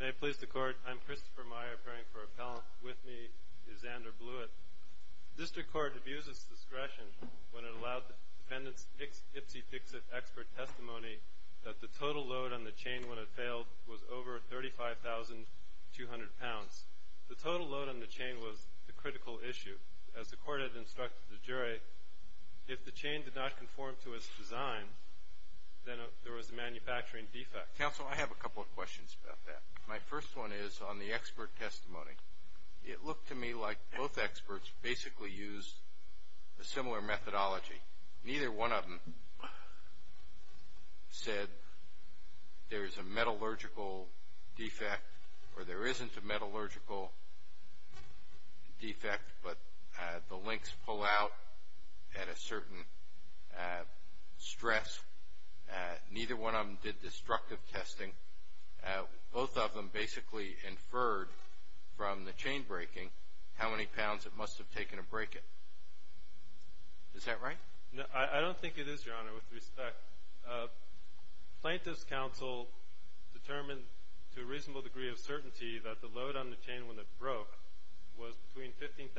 May it please the Court. I'm Christopher Meyer, appearing for appellant. With me is Xander Blewett. District Court abuses discretion when it allowed the defendant's ipsy-fixit expert testimony that the total load on the chain when it failed was over 35,200 pounds. The total load on the chain was the critical issue. As the Court had instructed the jury, if the chain did not conform to its design, then there was a manufacturing defect. Counsel, I have a couple of questions about that. My first one is on the expert testimony. It looked to me like both experts basically used a similar methodology. Neither one of them said there is a metallurgical defect or there isn't a metallurgical defect, but the links pull out at a certain stress. Neither one of them did destructive testing. Both of them basically inferred from the chain breaking how many pounds it must have taken to break it. Is that right? No, I don't think it is, Your Honor, with respect. Plaintiff's counsel determined to a reasonable degree of certainty that the load on the chain when it broke was between 15,000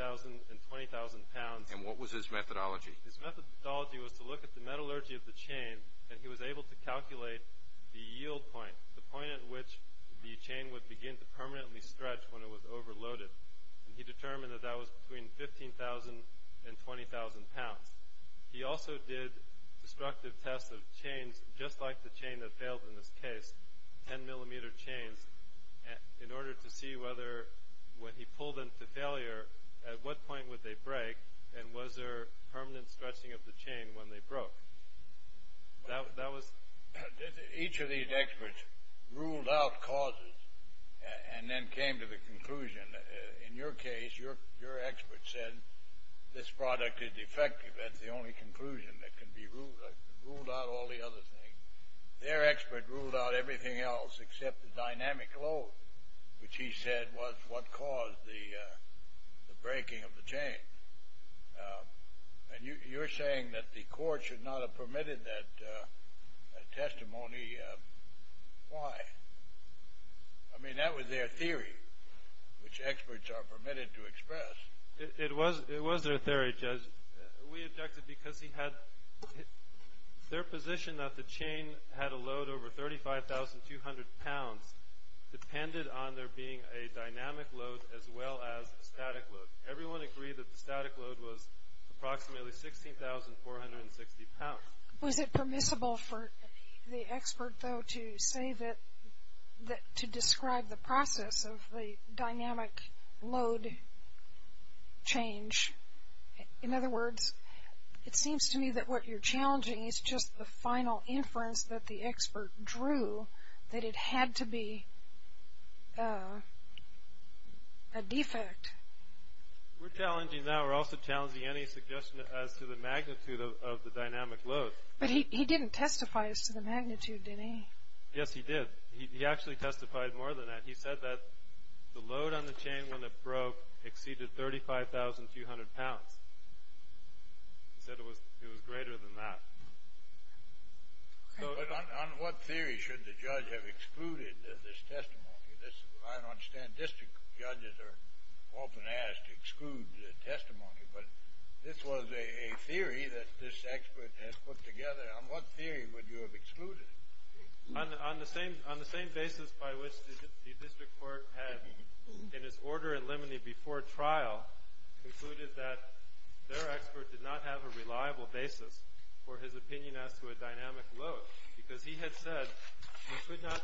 and 20,000 pounds. And what was his methodology? His methodology was to look at the metallurgy of the chain and he was able to calculate the yield point, the point at which the chain would begin to permanently stretch when it was overloaded. And he determined that that was between 15,000 and 20,000 pounds. He also did destructive tests of chains just like the chain that failed in this case, 10 millimeter chains, in order to see whether when he pulled them to failure, at what point would they break and was there permanent stretching of the chain when they broke. Each of these experts ruled out causes and then came to the conclusion. In your case, your expert said this product is defective. That's the only conclusion that can be ruled. I ruled out all the other things. Their expert ruled out everything else except the dynamic load, which he said was what caused the breaking of the chain. And you're saying that the court should not have permitted that testimony. Why? I mean, that was their theory, which experts are permitted to express. It was their theory, Judge. We objected because their position that the chain had a load over 35,200 pounds depended on there being a dynamic load as well as a static load. Everyone agreed that the static load was approximately 16,460 pounds. Was it permissible for the expert, though, to say that, to describe the process of the dynamic load change? In other words, it seems to me that what you're challenging is just the final inference that the expert drew that it had to be a defect. We're challenging now, we're also challenging any suggestion as to the magnitude of the dynamic load. But he didn't testify as to the magnitude, did he? Yes, he did. He actually testified more than that. He said that the load on the chain when it broke exceeded 35,200 pounds. He said it was greater than that. But on what theory should the judge have excluded this testimony? I don't understand. District judges are often asked to exclude testimony. But this was a theory that this expert has put together. On what theory would you have excluded it? On the same basis by which the district court had, in its order in limine before trial, concluded that their expert did not have a reliable basis for his opinion as to a dynamic load. Because he had said he could not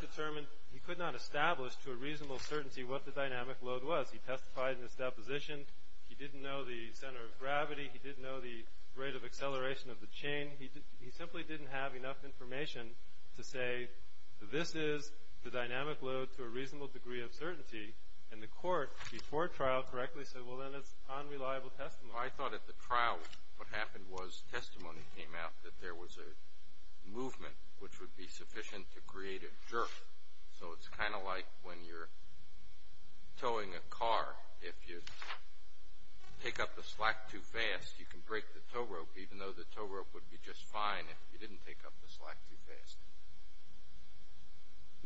establish to a reasonable certainty what the dynamic load was. He testified in his deposition. He didn't know the center of gravity. He didn't know the rate of acceleration of the chain. He simply didn't have enough information to say this is the dynamic load to a reasonable degree of certainty. And the court, before trial, correctly said, well, then it's unreliable testimony. I thought at the trial what happened was testimony came out that there was a movement which would be sufficient to create a jerk. So it's kind of like when you're towing a car. If you take up the slack too fast, you can break the tow rope, even though the tow rope would be just fine if you didn't take up the slack too fast.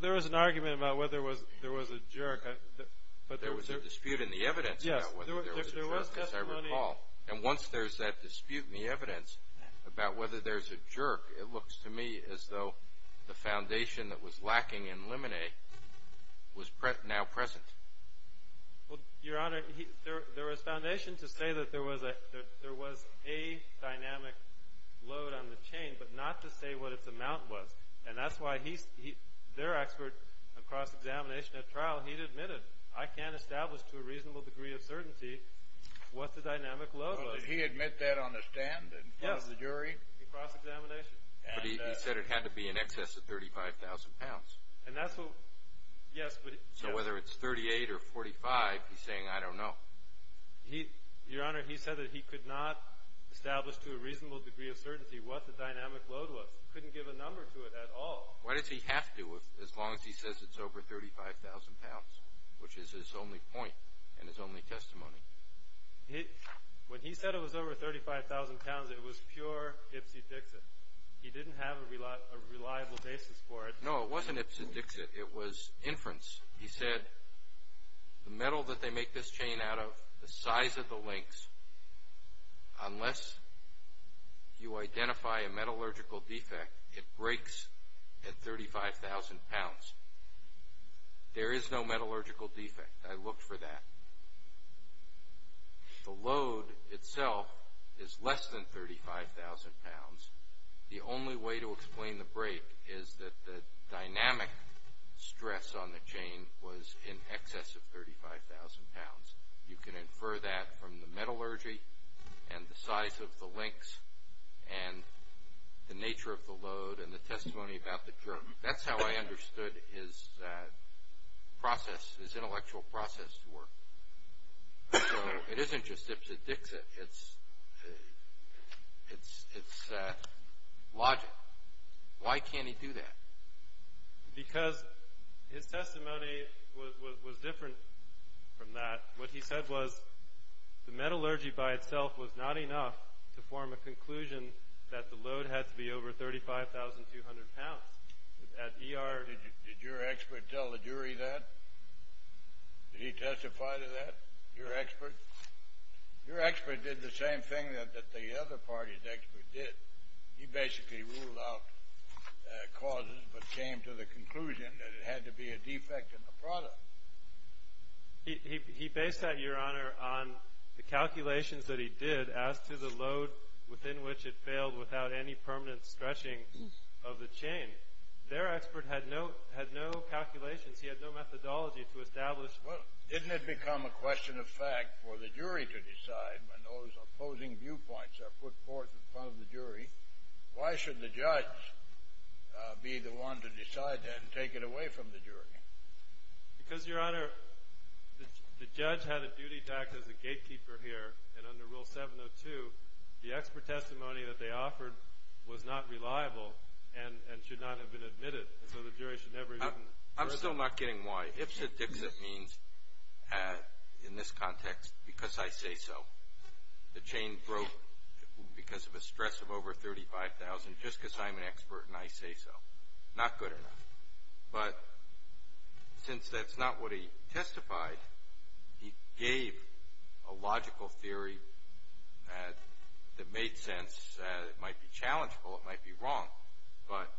There was an argument about whether there was a jerk. There was a dispute in the evidence about whether there was a jerk, as I recall. And once there's that dispute in the evidence about whether there's a jerk, it looks to me as though the foundation that was lacking in lemonade was now present. Well, Your Honor, there was foundation to say that there was a dynamic load on the chain, but not to say what its amount was. And that's why their expert on cross-examination at trial, he'd admitted, I can't establish to a reasonable degree of certainty what the dynamic load was. Well, did he admit that on the stand in front of the jury? Yes, in cross-examination. But he said it had to be in excess of 35,000 pounds. And that's what – yes, but – So whether it's 38 or 45, he's saying, I don't know. Your Honor, he said that he could not establish to a reasonable degree of certainty what the dynamic load was. He couldn't give a number to it at all. Why does he have to, as long as he says it's over 35,000 pounds, which is his only point and his only testimony? When he said it was over 35,000 pounds, it was pure ipsy-dixit. He didn't have a reliable basis for it. No, it wasn't ipsy-dixit. It was inference. He said the metal that they make this chain out of, the size of the links, unless you identify a metallurgical defect, it breaks at 35,000 pounds. There is no metallurgical defect. I looked for that. The load itself is less than 35,000 pounds. The only way to explain the break is that the dynamic stress on the chain was in excess of 35,000 pounds. You can infer that from the metallurgy and the size of the links and the nature of the load and the testimony about the drug. That's how I understood his process, his intellectual process to work. So it isn't just ipsy-dixit. It's logic. Why can't he do that? Because his testimony was different from that. What he said was the metallurgy by itself was not enough to form a conclusion that the load had to be over 35,200 pounds. Did your expert tell the jury that? Did he testify to that, your expert? Your expert did the same thing that the other party's expert did. He basically ruled out causes but came to the conclusion that it had to be a defect in the product. He based that, your honor, on the calculations that he did as to the load within which it failed without any permanent stretching of the chain. Their expert had no calculations. He had no methodology to establish. Well, didn't it become a question of fact for the jury to decide when those opposing viewpoints are put forth in front of the jury? Why should the judge be the one to decide that and take it away from the jury? Because, your honor, the judge had a duty to act as a gatekeeper here. And under Rule 702, the expert testimony that they offered was not reliable and should not have been admitted. And so the jury should never have even heard of it. I'm still not getting why. Ipsit-dixit means, in this context, because I say so. The chain broke because of a stress of over 35,000 just because I'm an expert and I say so. Not good enough. But since that's not what he testified, he gave a logical theory that made sense. It might be challengeable. It might be wrong. But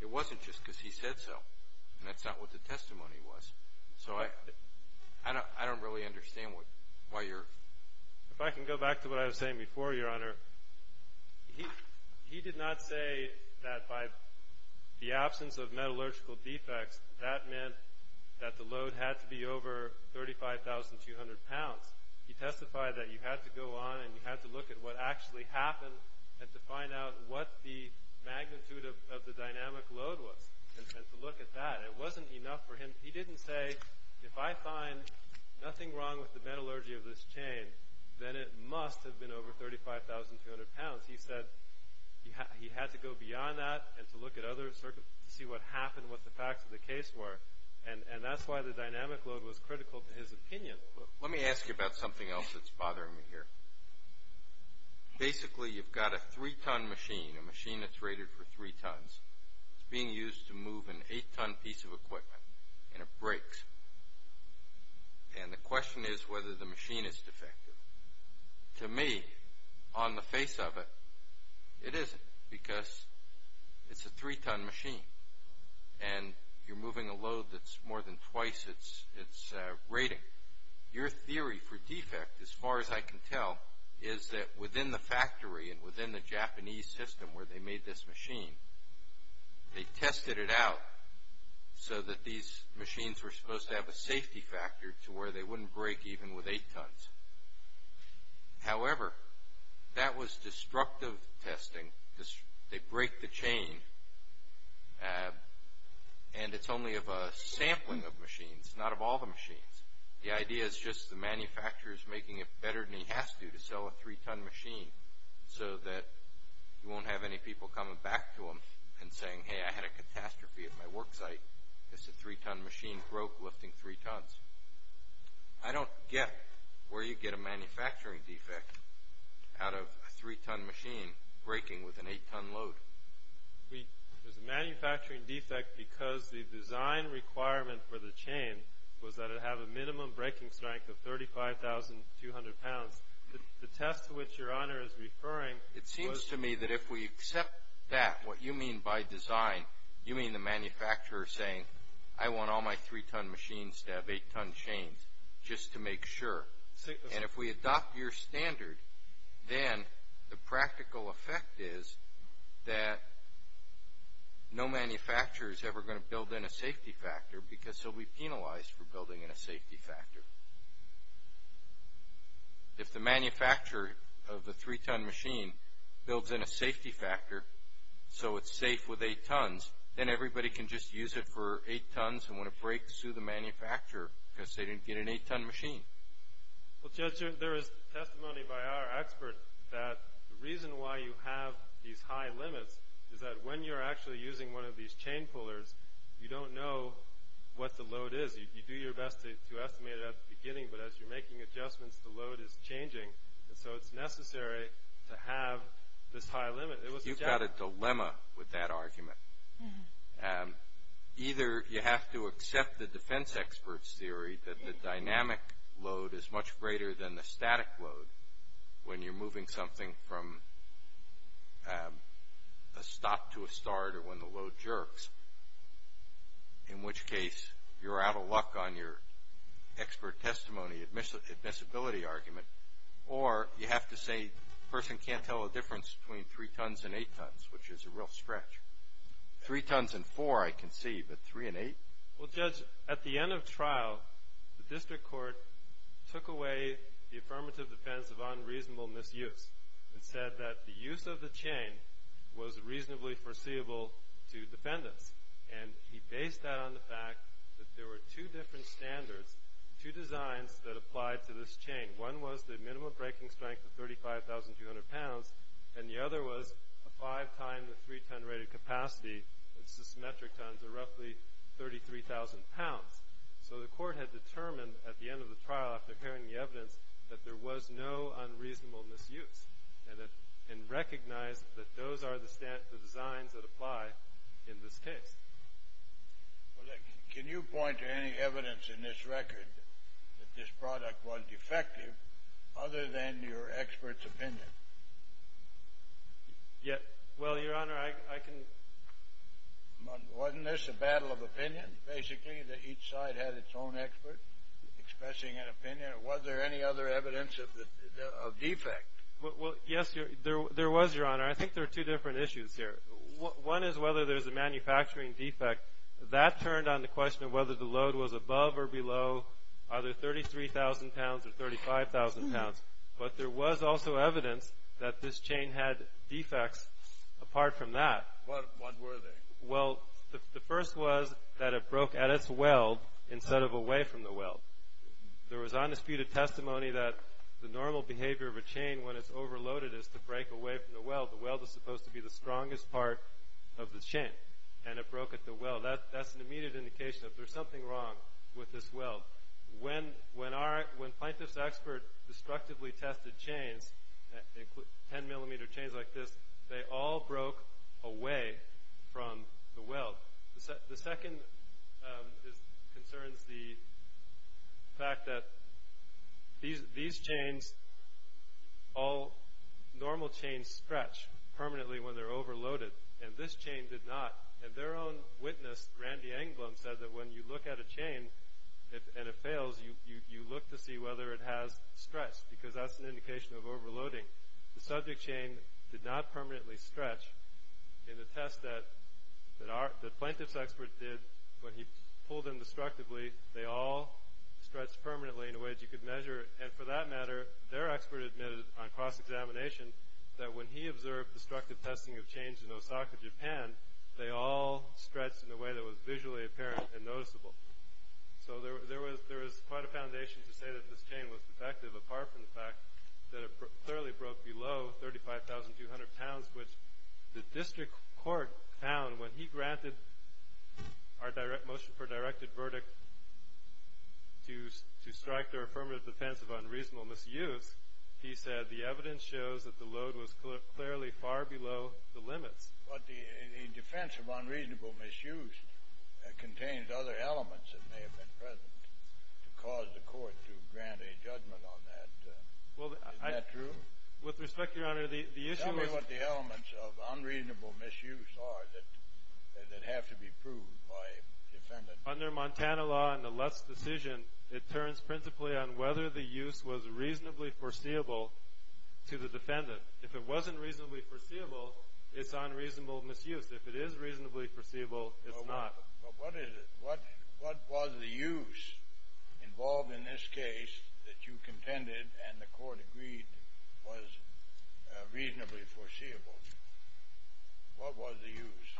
it wasn't just because he said so. And that's not what the testimony was. So I don't really understand why you're— If I can go back to what I was saying before, your honor, he did not say that by the absence of metallurgical defects, that meant that the load had to be over 35,200 pounds. He testified that you had to go on and you had to look at what actually happened and to find out what the magnitude of the dynamic load was and to look at that. It wasn't enough for him. He didn't say, if I find nothing wrong with the metallurgy of this chain, then it must have been over 35,200 pounds. He said he had to go beyond that and to look at other circumstances to see what happened, what the facts of the case were. And that's why the dynamic load was critical to his opinion. Let me ask you about something else that's bothering me here. Basically, you've got a three-ton machine, a machine that's rated for three tons. It's being used to move an eight-ton piece of equipment, and it breaks. And the question is whether the machine is defective. To me, on the face of it, it isn't because it's a three-ton machine. And you're moving a load that's more than twice its rating. Your theory for defect, as far as I can tell, is that within the factory and within the Japanese system where they made this machine, they tested it out so that these machines were supposed to have a safety factor to where they wouldn't break even with eight tons. However, that was destructive testing. They break the chain, and it's only of a sampling of machines, not of all the machines. The idea is just the manufacturer is making it better than he has to to sell a three-ton machine so that you won't have any people coming back to him and saying, hey, I had a catastrophe at my work site. It's a three-ton machine broke lifting three tons. I don't get where you get a manufacturing defect out of a three-ton machine breaking with an eight-ton load. There's a manufacturing defect because the design requirement for the chain was that it have a minimum breaking strength of 35,200 pounds. The test to which Your Honor is referring was— It seems to me that if we accept that, what you mean by design, you mean the manufacturer saying, I want all my three-ton machines to have eight-ton chains just to make sure. If we adopt your standard, then the practical effect is that no manufacturer is ever going to build in a safety factor because he'll be penalized for building in a safety factor. If the manufacturer of the three-ton machine builds in a safety factor so it's safe with eight tons, then everybody can just use it for eight tons and when it breaks, sue the manufacturer because they didn't get an eight-ton machine. Judge, there is testimony by our expert that the reason why you have these high limits is that when you're actually using one of these chain pullers, you don't know what the load is. You do your best to estimate it at the beginning, but as you're making adjustments, the load is changing. It's necessary to have this high limit. You've got a dilemma with that argument. Either you have to accept the defense expert's theory that the dynamic load is much greater than the static load when you're moving something from a stop to a start or when the load jerks, in which case you're out of luck on your expert testimony admissibility argument, or you have to say the person can't tell the difference between three tons and eight tons, which is a real stretch. Three tons and four I can see, but three and eight? Well, Judge, at the end of trial, the district court took away the affirmative defense of unreasonable misuse and said that the use of the chain was reasonably foreseeable to defendants, and he based that on the fact that there were two different standards, two designs that applied to this chain. One was the minimum breaking strength of 35,200 pounds, and the other was a five-time the three-ton rated capacity, which is symmetric times roughly 33,000 pounds. So the court had determined at the end of the trial after hearing the evidence that there was no unreasonable misuse and recognized that those are the designs that apply in this case. Well, can you point to any evidence in this record that this product was defective other than your expert's opinion? Well, Your Honor, I can... Wasn't this a battle of opinion, basically, that each side had its own expert expressing an opinion? Was there any other evidence of defect? Well, yes, there was, Your Honor. I think there are two different issues here. One is whether there's a manufacturing defect. That turned on the question of whether the load was above or below either 33,000 pounds or 35,000 pounds. But there was also evidence that this chain had defects apart from that. What were they? Well, the first was that it broke at its weld instead of away from the weld. There was undisputed testimony that the normal behavior of a chain when it's overloaded is to break away from the weld. The weld is supposed to be the strongest part of the chain, and it broke at the weld. That's an immediate indication that there's something wrong with this weld. When plaintiff's expert destructively tested chains, 10-millimeter chains like this, they all broke away from the weld. Now, the second concerns the fact that these chains, all normal chains stretch permanently when they're overloaded, and this chain did not. And their own witness, Randy Anglum, said that when you look at a chain and it fails, you look to see whether it has stretched because that's an indication of overloading. The subject chain did not permanently stretch. In the test that plaintiff's expert did when he pulled them destructively, they all stretched permanently in a way that you could measure. And for that matter, their expert admitted on cross-examination that when he observed destructive testing of chains in Osaka, Japan, they all stretched in a way that was visually apparent and noticeable. So there was quite a foundation to say that this chain was defective apart from the fact that it clearly broke below 35,200 pounds, which the district court found when he granted our motion for a directed verdict to strike their affirmative defense of unreasonable misuse. He said the evidence shows that the load was clearly far below the limits. But the defense of unreasonable misuse contains other elements that may have been present to cause the court to grant a judgment on that. Is that true? With respect, Your Honor, the issue was— Tell me what the elements of unreasonable misuse are that have to be proved by a defendant. Under Montana law in the Lutz decision, it turns principally on whether the use was reasonably foreseeable to the defendant. If it wasn't reasonably foreseeable, it's unreasonable misuse. If it is reasonably foreseeable, it's not. What was the use involved in this case that you contended and the court agreed was reasonably foreseeable? What was the use?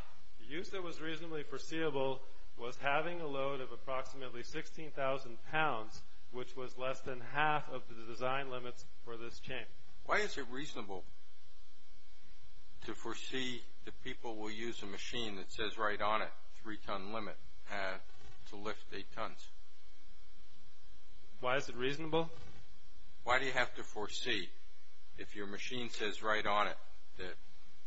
The use that was reasonably foreseeable was having a load of approximately 16,000 pounds, which was less than half of the design limits for this chain. Why is it reasonable to foresee that people will use a machine that says right on it, 3-ton limit, to lift 8 tons? Why is it reasonable? Why do you have to foresee, if your machine says right on it, that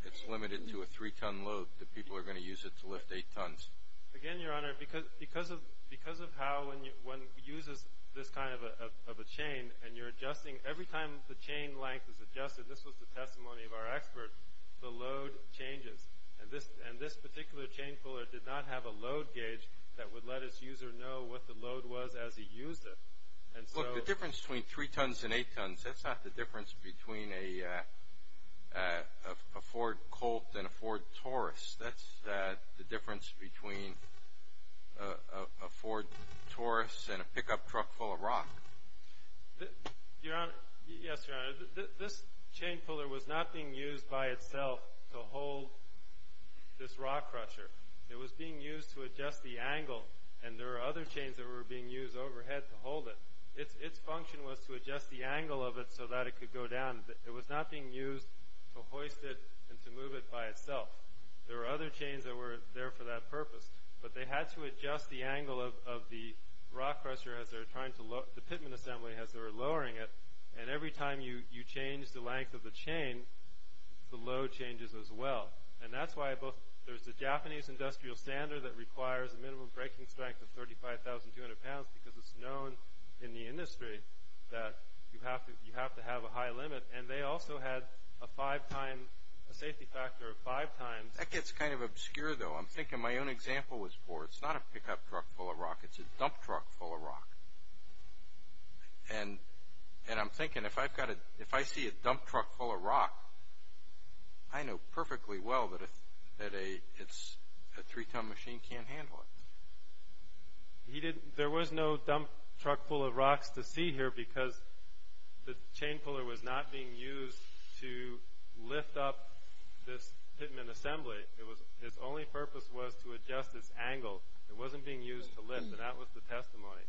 it's limited to a 3-ton load, that people are going to use it to lift 8 tons? Again, Your Honor, because of how when one uses this kind of a chain and you're adjusting, every time the chain length is adjusted, this was the testimony of our expert, the load changes. And this particular chain puller did not have a load gauge that would let its user know what the load was as he used it. Look, the difference between 3 tons and 8 tons, that's not the difference between a Ford Colt and a Ford Taurus. That's the difference between a Ford Taurus and a pickup truck full of rock. Yes, Your Honor. This chain puller was not being used by itself to hold this rock crusher. It was being used to adjust the angle, and there were other chains that were being used overhead to hold it. Its function was to adjust the angle of it so that it could go down. It was not being used to hoist it and to move it by itself. There were other chains that were there for that purpose, but they had to adjust the angle of the rock crusher, the pitman assembly, as they were lowering it. And every time you change the length of the chain, the load changes as well. And that's why there's the Japanese industrial standard that requires a minimum breaking strength of 35,200 pounds because it's known in the industry that you have to have a high limit. And they also had a safety factor of five times. That gets kind of obscure, though. I'm thinking my own example was Ford. It's not a pickup truck full of rock. It's a dump truck full of rock. And I'm thinking, if I see a dump truck full of rock, I know perfectly well that a 3-ton machine can't handle it. There was no dump truck full of rocks to see here because the chain puller was not being used to lift up this pitman assembly. His only purpose was to adjust its angle. It wasn't being used to lift, and that was the testimony.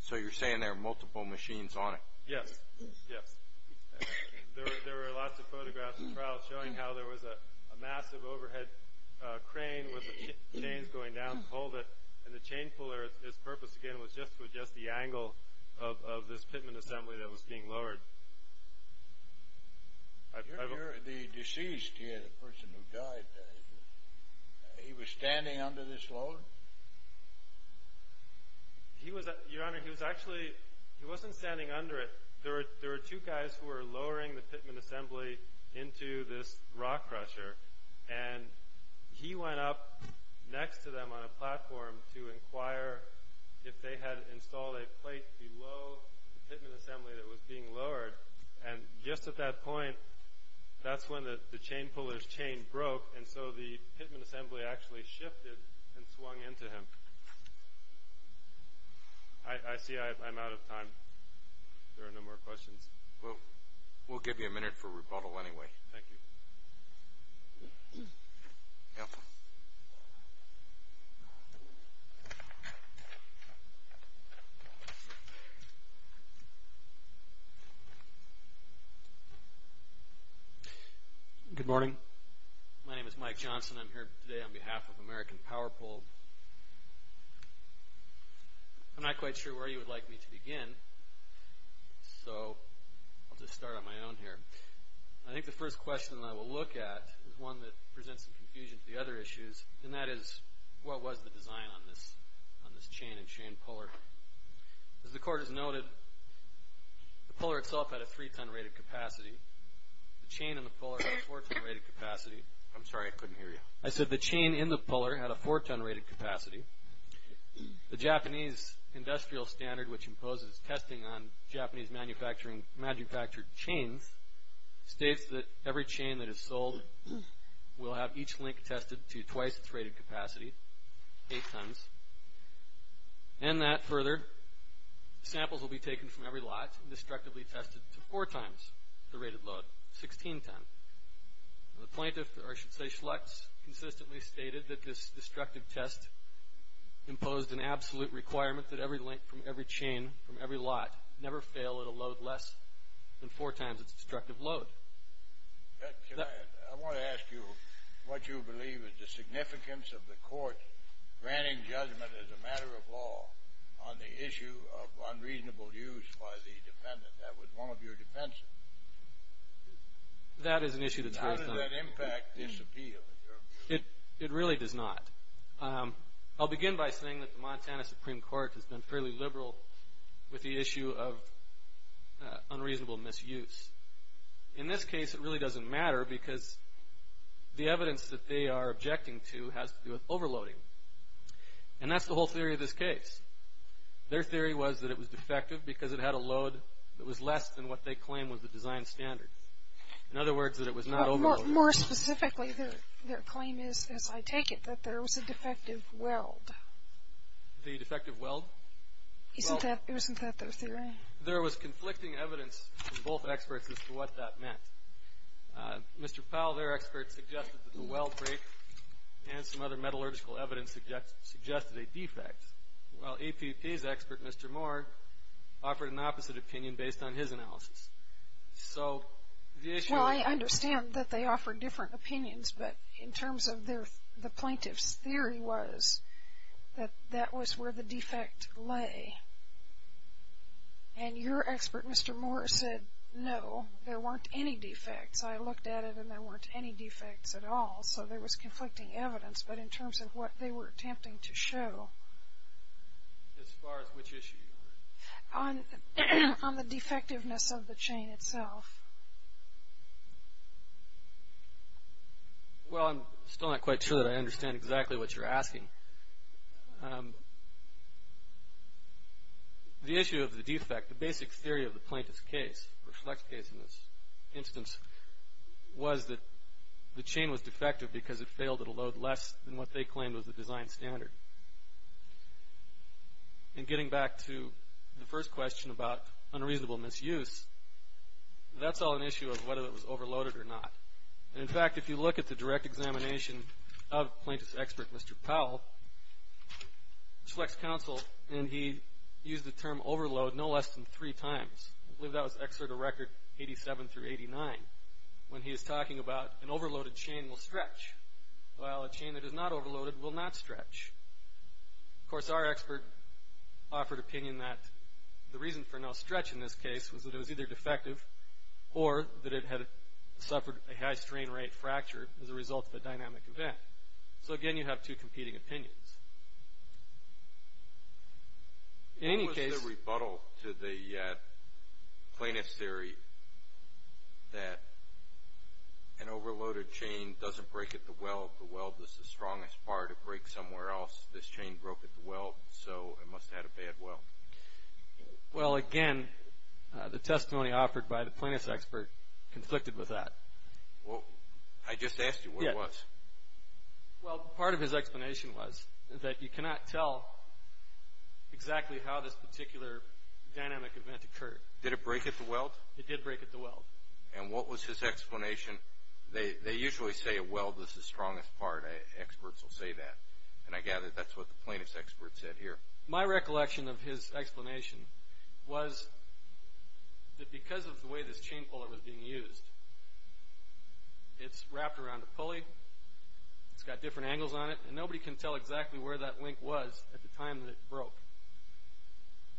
So you're saying there are multiple machines on it. Yes, yes. There were lots of photographs and trials showing how there was a massive overhead crane with the chains going down to hold it, and the chain puller, its purpose, again, was just to adjust the angle of this pitman assembly that was being lowered. The deceased here, the person who died, he was standing under this load? Your Honor, he wasn't standing under it. There were two guys who were lowering the pitman assembly into this rock crusher, and he went up next to them on a platform to inquire if they had installed a plate below the pitman assembly that was being lowered. And just at that point, that's when the chain puller's chain broke, and so the pitman assembly actually shifted and swung into him. I see I'm out of time. There are no more questions. Well, we'll give you a minute for rebuttal anyway. Thank you. Good morning. My name is Mike Johnson. I'm here today on behalf of American Power Pull. I'm not quite sure where you would like me to begin, so I'll just start on my own here. I think the first question that I will look at is one that presents some confusion to the other issues, and that is what was the design on this chain and chain puller? As the Court has noted, the puller itself had a 3-ton rated capacity. The chain in the puller had a 4-ton rated capacity. I'm sorry, I couldn't hear you. I said the chain in the puller had a 4-ton rated capacity. The Japanese industrial standard, which imposes testing on Japanese manufactured chains, states that every chain that is sold will have each link tested to twice its rated capacity, 8 tons, and that further, samples will be taken from every lot and destructively tested to four times the rated load, 16 tons. The plaintiff, or I should say Schlecht, consistently stated that this destructive test imposed an absolute requirement that every link from every chain from every lot never fail at a load less than four times its destructive load. I want to ask you what you believe is the significance of the Court granting judgment as a matter of law on the issue of unreasonable use by the defendant. That was one of your defenses. That is an issue that's very common. How does that impact disappeal? It really does not. I'll begin by saying that the Montana Supreme Court has been fairly liberal with the issue of unreasonable misuse. In this case, it really doesn't matter because the evidence that they are objecting to has to do with overloading, and that's the whole theory of this case. Their theory was that it was defective because it had a load that was less than what they claimed was the design standard. In other words, that it was not overloaded. More specifically, their claim is, as I take it, that there was a defective weld. The defective weld? Isn't that their theory? There was conflicting evidence from both experts as to what that meant. Mr. Powell, their expert, suggested that the weld break and some other metallurgical evidence suggested a defect. Well, EPP's expert, Mr. Moore, offered an opposite opinion based on his analysis. So the issue is... Well, I understand that they offered different opinions, but in terms of the plaintiff's theory was that that was where the defect lay. And your expert, Mr. Moore, said, no, there weren't any defects. I looked at it, and there weren't any defects at all, so there was conflicting evidence. But in terms of what they were attempting to show... As far as which issue? On the defectiveness of the chain itself. Well, I'm still not quite sure that I understand exactly what you're asking. The issue of the defect, the basic theory of the plaintiff's case, or Schlecht's case in this instance, was that the chain was defective because it failed at a load less than what they claimed was the design standard. And getting back to the first question about unreasonable misuse, that's all an issue of whether it was overloaded or not. In fact, if you look at the direct examination of plaintiff's expert, Mr. Powell, Schlecht's counsel, and he used the term overload no less than three times. I believe that was Excerpt of Record 87 through 89, when he was talking about an overloaded chain will stretch, while a chain that is not overloaded will not stretch. Of course, our expert offered opinion that the reason for no stretch in this case was that it was either defective or that it had suffered a high strain rate fracture as a result of a dynamic event. So again, you have two competing opinions. In any case... What was the rebuttal to the plaintiff's theory that an overloaded chain doesn't break at the weld? The weld is the strongest part. It breaks somewhere else. This chain broke at the weld, so it must have had a bad weld. Well, again, the testimony offered by the plaintiff's expert conflicted with that. Well, I just asked you what it was. Well, part of his explanation was that you cannot tell exactly how this particular dynamic event occurred. Did it break at the weld? It did break at the weld. And what was his explanation? They usually say a weld is the strongest part. Experts will say that, and I gather that's what the plaintiff's expert said here. My recollection of his explanation was that because of the way this chain puller was being used, it's wrapped around a pulley, it's got different angles on it, and nobody can tell exactly where that link was at the time that it broke.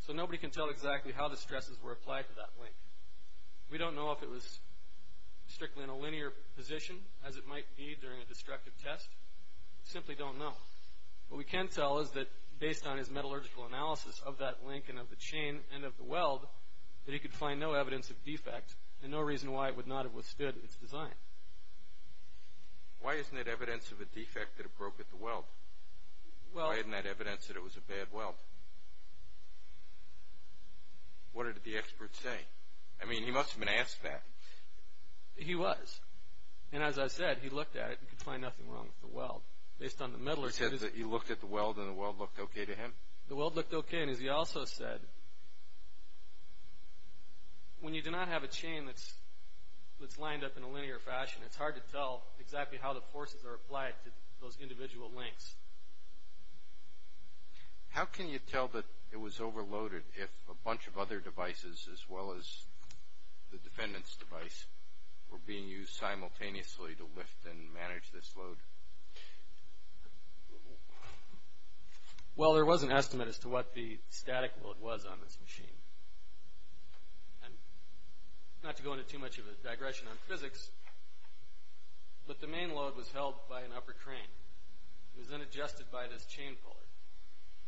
So nobody can tell exactly how the stresses were applied to that link. We don't know if it was strictly in a linear position, as it might be during a destructive test. We simply don't know. What we can tell is that, based on his metallurgical analysis of that link and of the chain and of the weld, that he could find no evidence of defect and no reason why it would not have withstood its design. Why isn't it evidence of a defect that it broke at the weld? Why isn't that evidence that it was a bad weld? What did the expert say? I mean, he must have been asked that. He was. And as I said, he looked at it and could find nothing wrong with the weld. Based on the metallurgy… He said that he looked at the weld and the weld looked okay to him? The weld looked okay. And as he also said, when you do not have a chain that's lined up in a linear fashion, it's hard to tell exactly how the forces are applied to those individual links. How can you tell that it was overloaded if a bunch of other devices, as well as the defendant's device, were being used simultaneously to lift and manage this load? Well, there was an estimate as to what the static load was on this machine. And not to go into too much of a digression on physics, but the main load was held by an upper crane. It was then adjusted by this chain puller.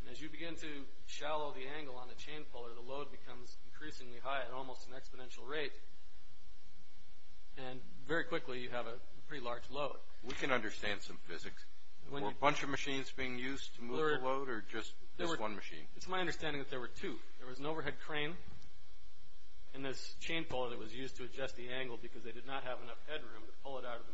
And as you begin to shallow the angle on the chain puller, the load becomes increasingly high at almost an exponential rate, and very quickly you have a pretty large load. We can understand some physics. Were a bunch of machines being used to move the load, or just this one machine? It's my understanding that there were two. There was an overhead crane and this chain puller that was used to adjust the angle because they did not have enough headroom to pull it out of the machine.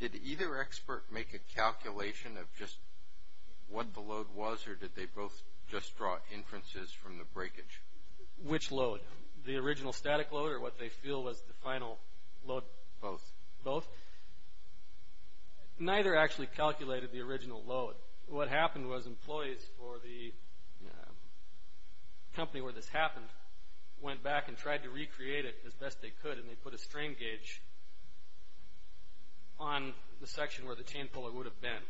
Did either expert make a calculation of just what the load was, or did they both just draw inferences from the breakage? Which load? The original static load, or what they feel was the final load? Both. Both? Neither actually calculated the original load. What happened was employees for the company where this happened went back and tried to recreate it as best they could, and they put a strain gauge on the section where the chain puller would have been.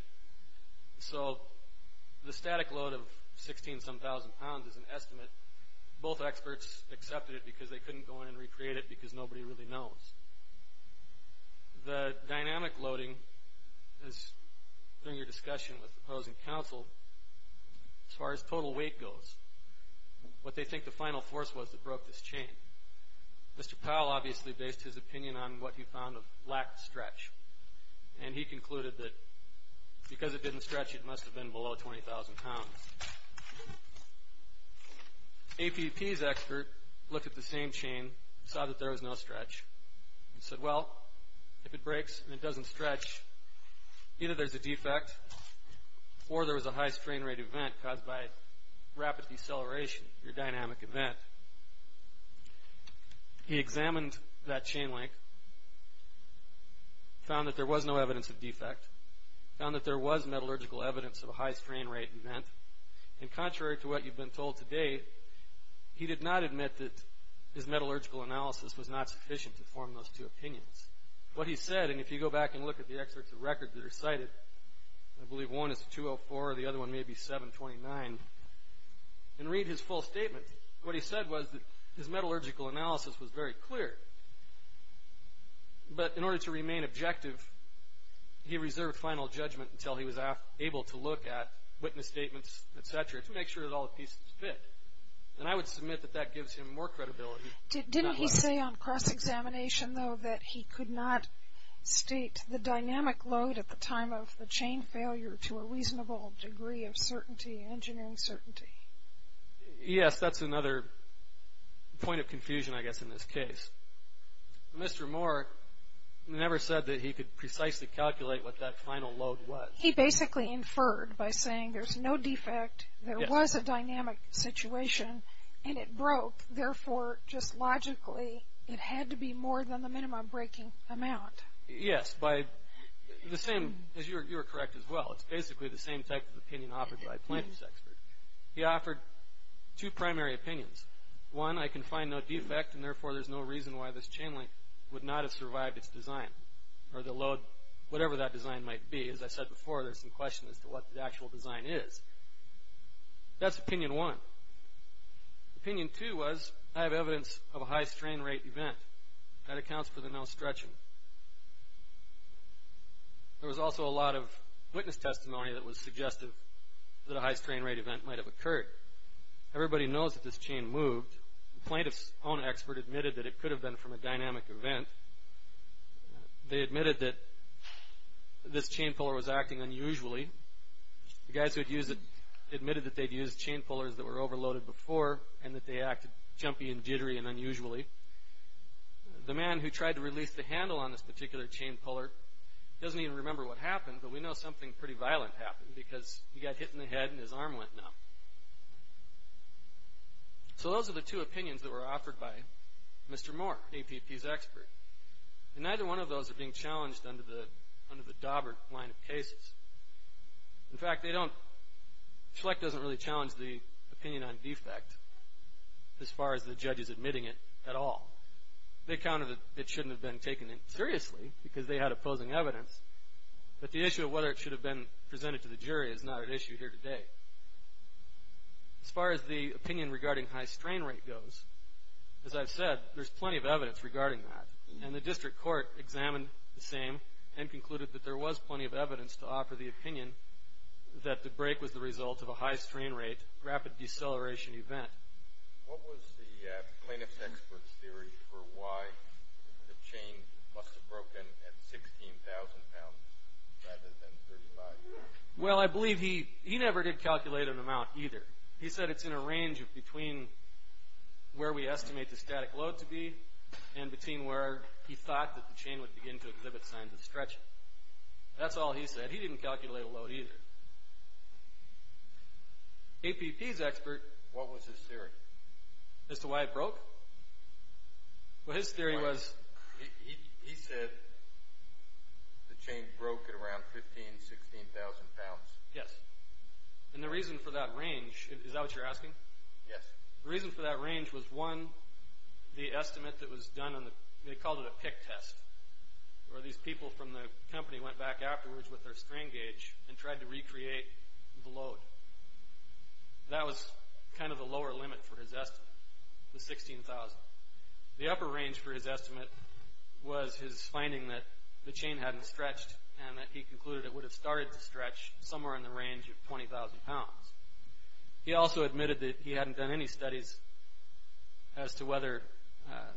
So the static load of 16-some-thousand pounds is an estimate. Both experts accepted it because they couldn't go in and recreate it because nobody really knows. The dynamic loading is, during your discussion with opposing counsel, as far as total weight goes, what they think the final force was that broke this chain. Mr. Powell obviously based his opinion on what he found of lack of stretch, and he concluded that because it didn't stretch, it must have been below 20,000 pounds. APP's expert looked at the same chain, saw that there was no stretch, and said, well, if it breaks and it doesn't stretch, either there's a defect, or there was a high strain rate event caused by rapid deceleration, your dynamic event. He examined that chain link, found that there was no evidence of defect, found that there was metallurgical evidence of a high strain rate event, and contrary to what you've been told today, he did not admit that his metallurgical analysis was not sufficient to form those two opinions. What he said, and if you go back and look at the excerpts of record that are cited, I believe one is 204, the other one may be 729, and read his full statement. What he said was that his metallurgical analysis was very clear, but in order to remain objective, he reserved final judgment until he was able to look at witness statements, et cetera, to make sure that all the pieces fit. And I would submit that that gives him more credibility. Didn't he say on cross-examination, though, that he could not state the dynamic load at the time of the chain failure to a reasonable degree of certainty, engineering certainty? Yes, that's another point of confusion, I guess, in this case. Mr. Moore never said that he could precisely calculate what that final load was. He basically inferred by saying there's no defect, there was a dynamic situation, and it broke. Therefore, just logically, it had to be more than the minimum breaking amount. Yes, by the same, you're correct as well. It's basically the same type of opinion offered by plaintiffs' experts. He offered two primary opinions. One, I can find no defect, and therefore, there's no reason why this chain link would not have survived its design or the load, whatever that design might be. As I said before, there's some question as to what the actual design is. That's opinion one. Opinion two was, I have evidence of a high strain rate event. That accounts for the no stretching. There was also a lot of witness testimony that was suggestive that a high strain rate event might have occurred. Everybody knows that this chain moved. The plaintiff's own expert admitted that it could have been from a dynamic event. They admitted that this chain puller was acting unusually. The guys who had used it admitted that they'd used chain pullers that were overloaded before and that they acted jumpy and jittery and unusually. The man who tried to release the handle on this particular chain puller doesn't even remember what happened, but we know something pretty violent happened because he got hit in the head and his arm went numb. So those are the two opinions that were offered by Mr. Moore, APP's expert. And neither one of those are being challenged under the Daubert line of cases. In fact, they don't. Now, Schlecht doesn't really challenge the opinion on defect as far as the judges admitting it at all. They counted that it shouldn't have been taken seriously because they had opposing evidence, but the issue of whether it should have been presented to the jury is not an issue here today. As far as the opinion regarding high strain rate goes, as I've said, there's plenty of evidence regarding that, and the district court examined the same and concluded that there was plenty of evidence to offer the opinion that the break was the result of a high strain rate, rapid deceleration event. What was the plaintiff's expert's theory for why the chain must have broken at 16,000 pounds rather than 35? Well, I believe he never did calculate an amount either. He said it's in a range of between where we estimate the static load to be and between where he thought that the chain would begin to exhibit signs of stretching. That's all he said. He didn't calculate a load either. APP's expert... What was his theory? As to why it broke? Well, his theory was... He said the chain broke at around 15,000, 16,000 pounds. Yes. And the reason for that range... Is that what you're asking? Yes. The reason for that range was, one, the estimate that was done on the... where these people from the company went back afterwards with their strain gauge and tried to recreate the load. That was kind of the lower limit for his estimate, the 16,000. The upper range for his estimate was his finding that the chain hadn't stretched and that he concluded it would have started to stretch somewhere in the range of 20,000 pounds. He also admitted that he hadn't done any studies as to whether... The fact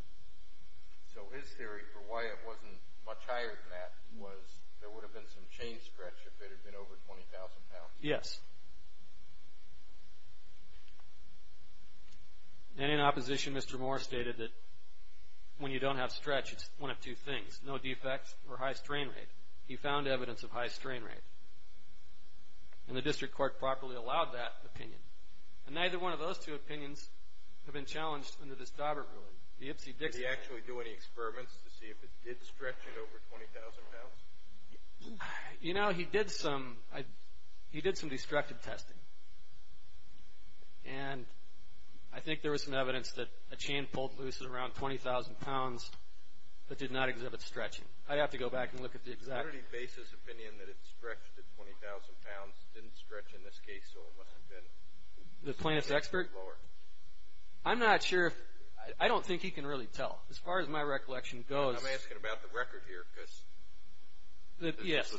that it wasn't much higher than that was there would have been some chain stretch if it had been over 20,000 pounds. Yes. And in opposition, Mr. Moore stated that when you don't have stretch, it's one of two things. No defects or high strain rate. He found evidence of high strain rate. And the district court properly allowed that opinion. And neither one of those two opinions have been challenged under this Daubert ruling. The Ipsy-Dixon... Did he actually do any experiments to see if it did stretch at over 20,000 pounds? You know, he did some destructive testing. And I think there was some evidence that a chain pulled loose at around 20,000 pounds but did not exhibit stretching. I'd have to go back and look at the exact... What are the basis opinion that it stretched at 20,000 pounds, didn't stretch in this case, so it must have been... The plaintiff's expert? Lower. I'm not sure if... I don't think he can really tell. As far as my recollection goes... I'm asking about the record here because... Yes.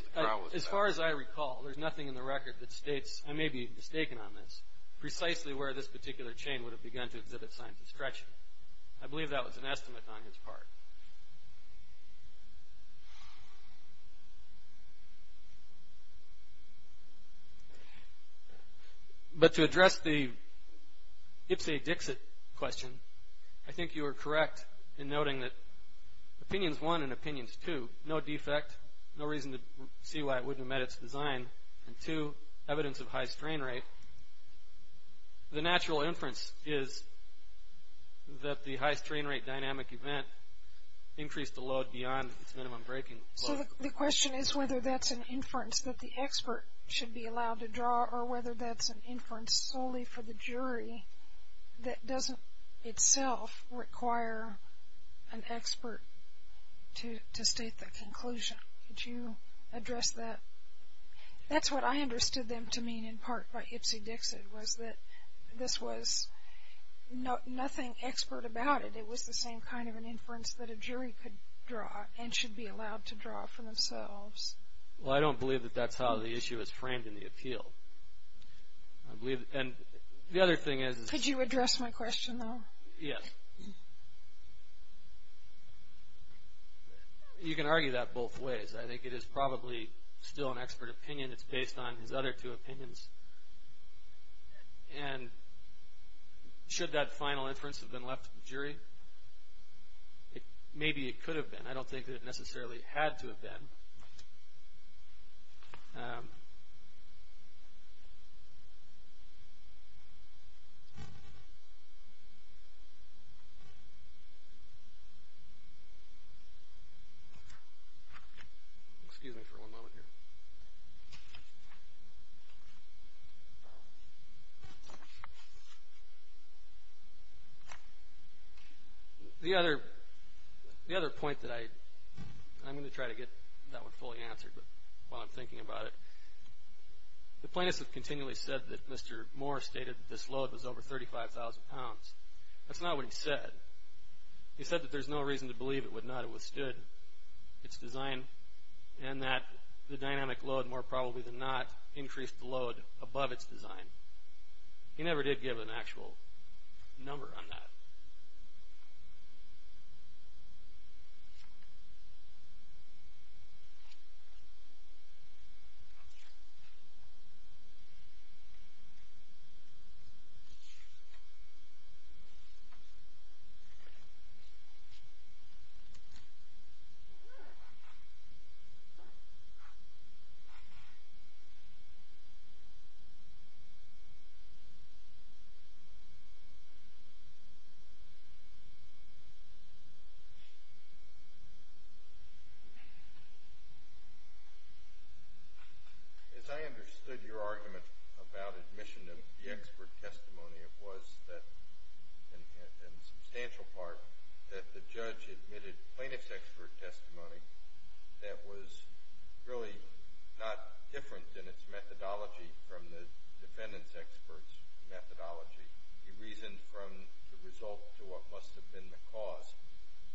As far as I recall, there's nothing in the record that states, I may be mistaken on this, precisely where this particular chain would have begun to exhibit signs of stretching. I believe that was an estimate on his part. But to address the Ipsy-Dixit question, I think you are correct in noting that opinions one and opinions two, no defect, no reason to see why it wouldn't have met its design, and two, evidence of high strain rate. The natural inference is that the high strain rate dynamic event increased the load beyond its minimum breaking load. So the question is whether that's an inference that the expert should be allowed to draw or whether that's an inference solely for the jury that doesn't itself require an expert to state the conclusion. Could you address that? That's what I understood them to mean in part by Ipsy-Dixit was that this was nothing expert about it. It was the same kind of an inference that a jury could draw and should be allowed to draw for themselves. Well, I don't believe that that's how the issue is framed in the appeal. And the other thing is... Could you address my question, though? Yes. You can argue that both ways. I think it is probably still an expert opinion. It's based on his other two opinions. And should that final inference have been left to the jury? Maybe it could have been. I don't think that it necessarily had to have been. Excuse me for one moment here. The other point that I'm going to try to get that one fully answered while I'm thinking about it, the plaintiffs have continually said that Mr. Moore stated that this load was over 35,000 pounds. That's not what he said. He said that there's no reason to believe it would not have withstood its design and that the dynamic load, more probably than not, increased the load above its design. He never did give an actual number on that. As I understood your argument about admission of the expert testimony, it was that, in substantial part, that the judge admitted plaintiff's expert testimony that was really not different in its methodology from the defendant's expert's methodology. He reasoned from the result to what must have been the cause.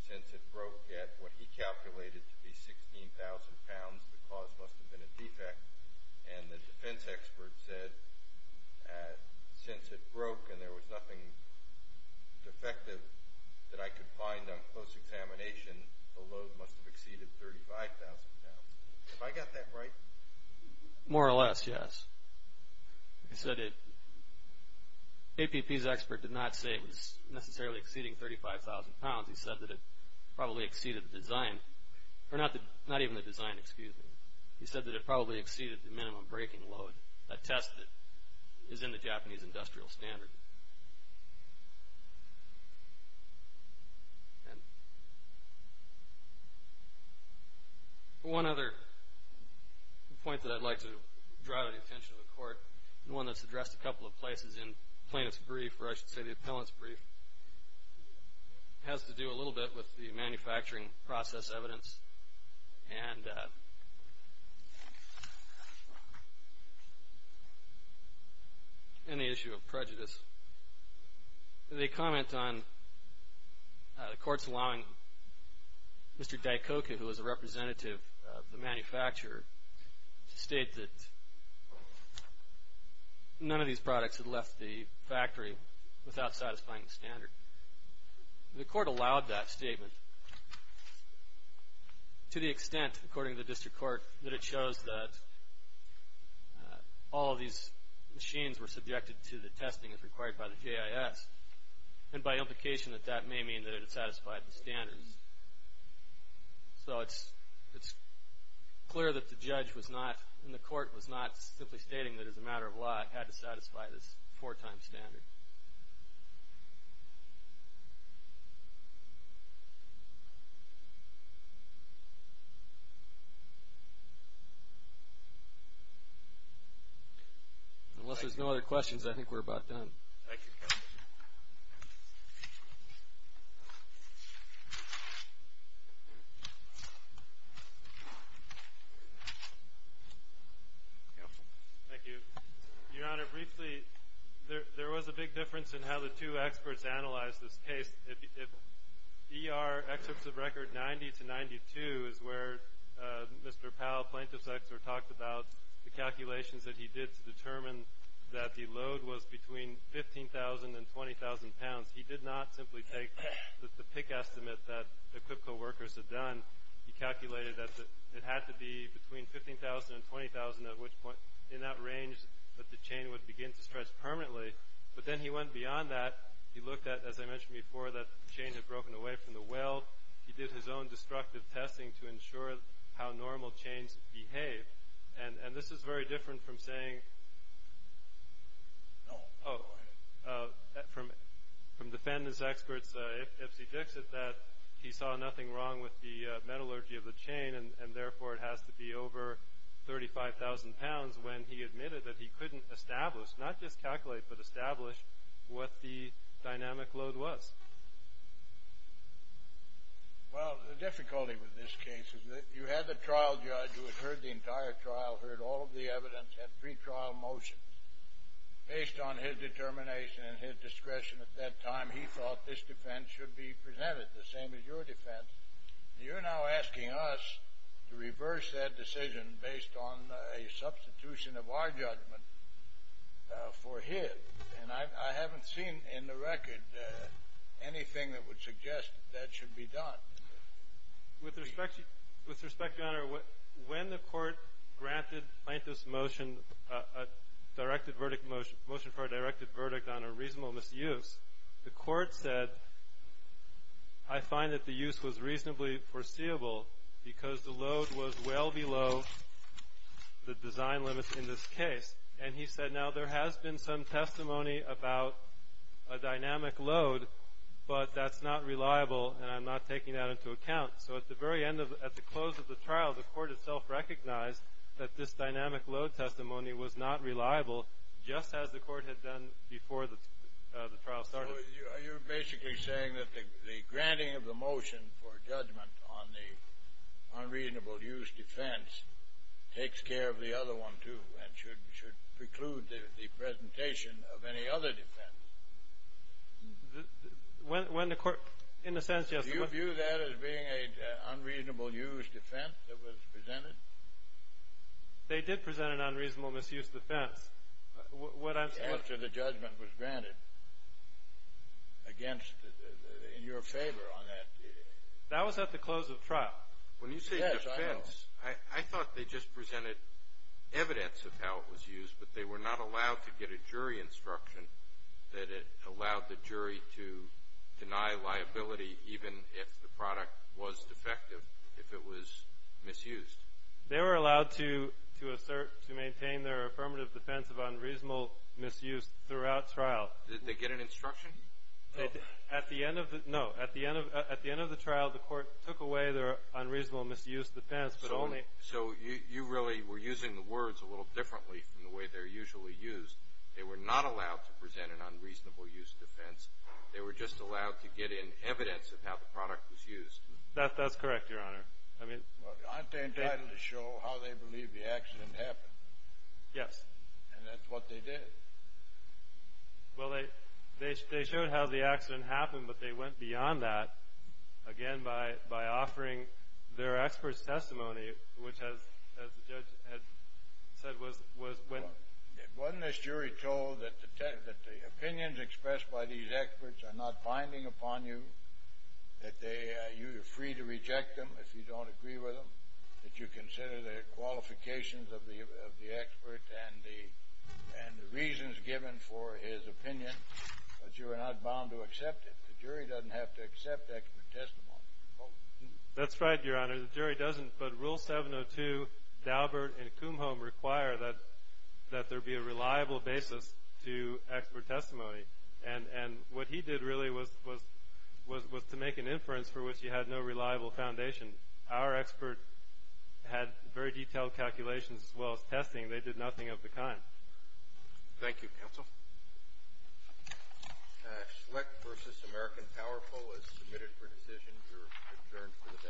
Since it broke at what he calculated to be 16,000 pounds, the cause must have been a defect. And the defense expert said, since it broke and there was nothing defective that I could find on close examination, the load must have exceeded 35,000 pounds. Have I got that right? More or less, yes. He said APP's expert did not say it was necessarily exceeding 35,000 pounds. He said that it probably exceeded the design. Not even the design, excuse me. He said that it probably exceeded the minimum breaking load, a test that is in the Japanese industrial standard. And one other point that I'd like to draw the attention of the court, and one that's addressed a couple of places in plaintiff's brief, or I should say the appellant's brief, has to do a little bit with the manufacturing process evidence and the issue of prejudice. They comment on the court's allowing Mr. Daikoku, who was a representative of the manufacturer, to state that none of these products had left the factory without satisfying the standard. The court allowed that statement to the extent, according to the district court, that it shows that all of these machines were subjected to the testing as required by the JIS, and by implication that that may mean that it had satisfied the standards. So it's clear that the judge was not, and the court was not simply stating that, as a matter of law, it had to satisfy this four-time standard. Unless there's no other questions, I think we're about done. Thank you. Thank you. Your Honor, briefly, there was a big difference in how the two experts analyzed this case. If ER excerpts of record 90 to 92 is where Mr. Powell, plaintiff's expert, talked about the calculations that he did to determine that the load was between 15,000 and 20,000 pounds, he did not simply take the PIC estimate that the Quipco workers had done. He calculated that it had to be between 15,000 and 20,000, at which point in that range that the chain would begin to stretch permanently. But then he went beyond that. He looked at, as I mentioned before, that the chain had broken away from the weld. He did his own destructive testing to ensure how normal chains behave. And this is very different from saying, oh, from defendant's experts, that he saw nothing wrong with the metallurgy of the chain, and therefore it has to be over 35,000 pounds, when he admitted that he couldn't establish, not just calculate, but establish what the dynamic load was. Well, the difficulty with this case is that you had the trial judge who had heard the entire trial, heard all of the evidence, had pre-trial motions. Based on his determination and his discretion at that time, he thought this defense should be presented, the same as your defense. You're now asking us to reverse that decision based on a substitution of our judgment for his. And I haven't seen in the record anything that would suggest that that should be done. With respect, Your Honor, when the court granted Plaintiff's motion, a motion for a directed verdict on a reasonable misuse, the court said, I find that the use was reasonably foreseeable because the load was well below the design limits in this case. And he said, now, there has been some testimony about a dynamic load, but that's not reliable and I'm not taking that into account. So at the very end of, at the close of the trial, the court itself recognized that this dynamic load testimony was not reliable, just as the court had done before the trial started. So you're basically saying that the granting of the motion for judgment on the unreasonable use defense takes care of the other one, too, and should preclude the presentation of any other defense. When the court, in a sense, yes. Do you view that as being an unreasonable use defense that was presented? They did present an unreasonable misuse defense. The answer to the judgment was granted against, in your favor on that. That was at the close of the trial. Yes, I know. When you say defense, I thought they just presented evidence of how it was used, but they were not allowed to get a jury instruction that it allowed the jury to deny liability, even if the product was defective, if it was misused. They were allowed to assert, to maintain their affirmative defense of unreasonable misuse throughout trial. Did they get an instruction? At the end of the, no, at the end of the trial, the court took away their unreasonable misuse defense. So you really were using the words a little differently from the way they're usually used. They were not allowed to present an unreasonable use defense. They were just allowed to get in evidence of how the product was used. That's correct, Your Honor. Aren't they entitled to show how they believe the accident happened? Yes. And that's what they did. Well, they showed how the accident happened, but they went beyond that, again, by offering their expert's testimony, which, as the judge had said, was when. Wasn't this jury told that the opinions expressed by these experts are not binding upon you, that you are free to reject them if you don't agree with them, that you consider their qualifications of the expert and the reasons given for his opinion, but you are not bound to accept it? The jury doesn't have to accept expert testimony. That's right, Your Honor. The jury doesn't. But Rule 702, Daubert, and Kumholm require that there be a reliable basis to expert testimony. And what he did really was to make an inference for which he had no reliable foundation. Our expert had very detailed calculations as well as testing. They did nothing of the kind. Thank you, counsel. Select versus American Powerful is submitted for decision. You're adjourned for the day.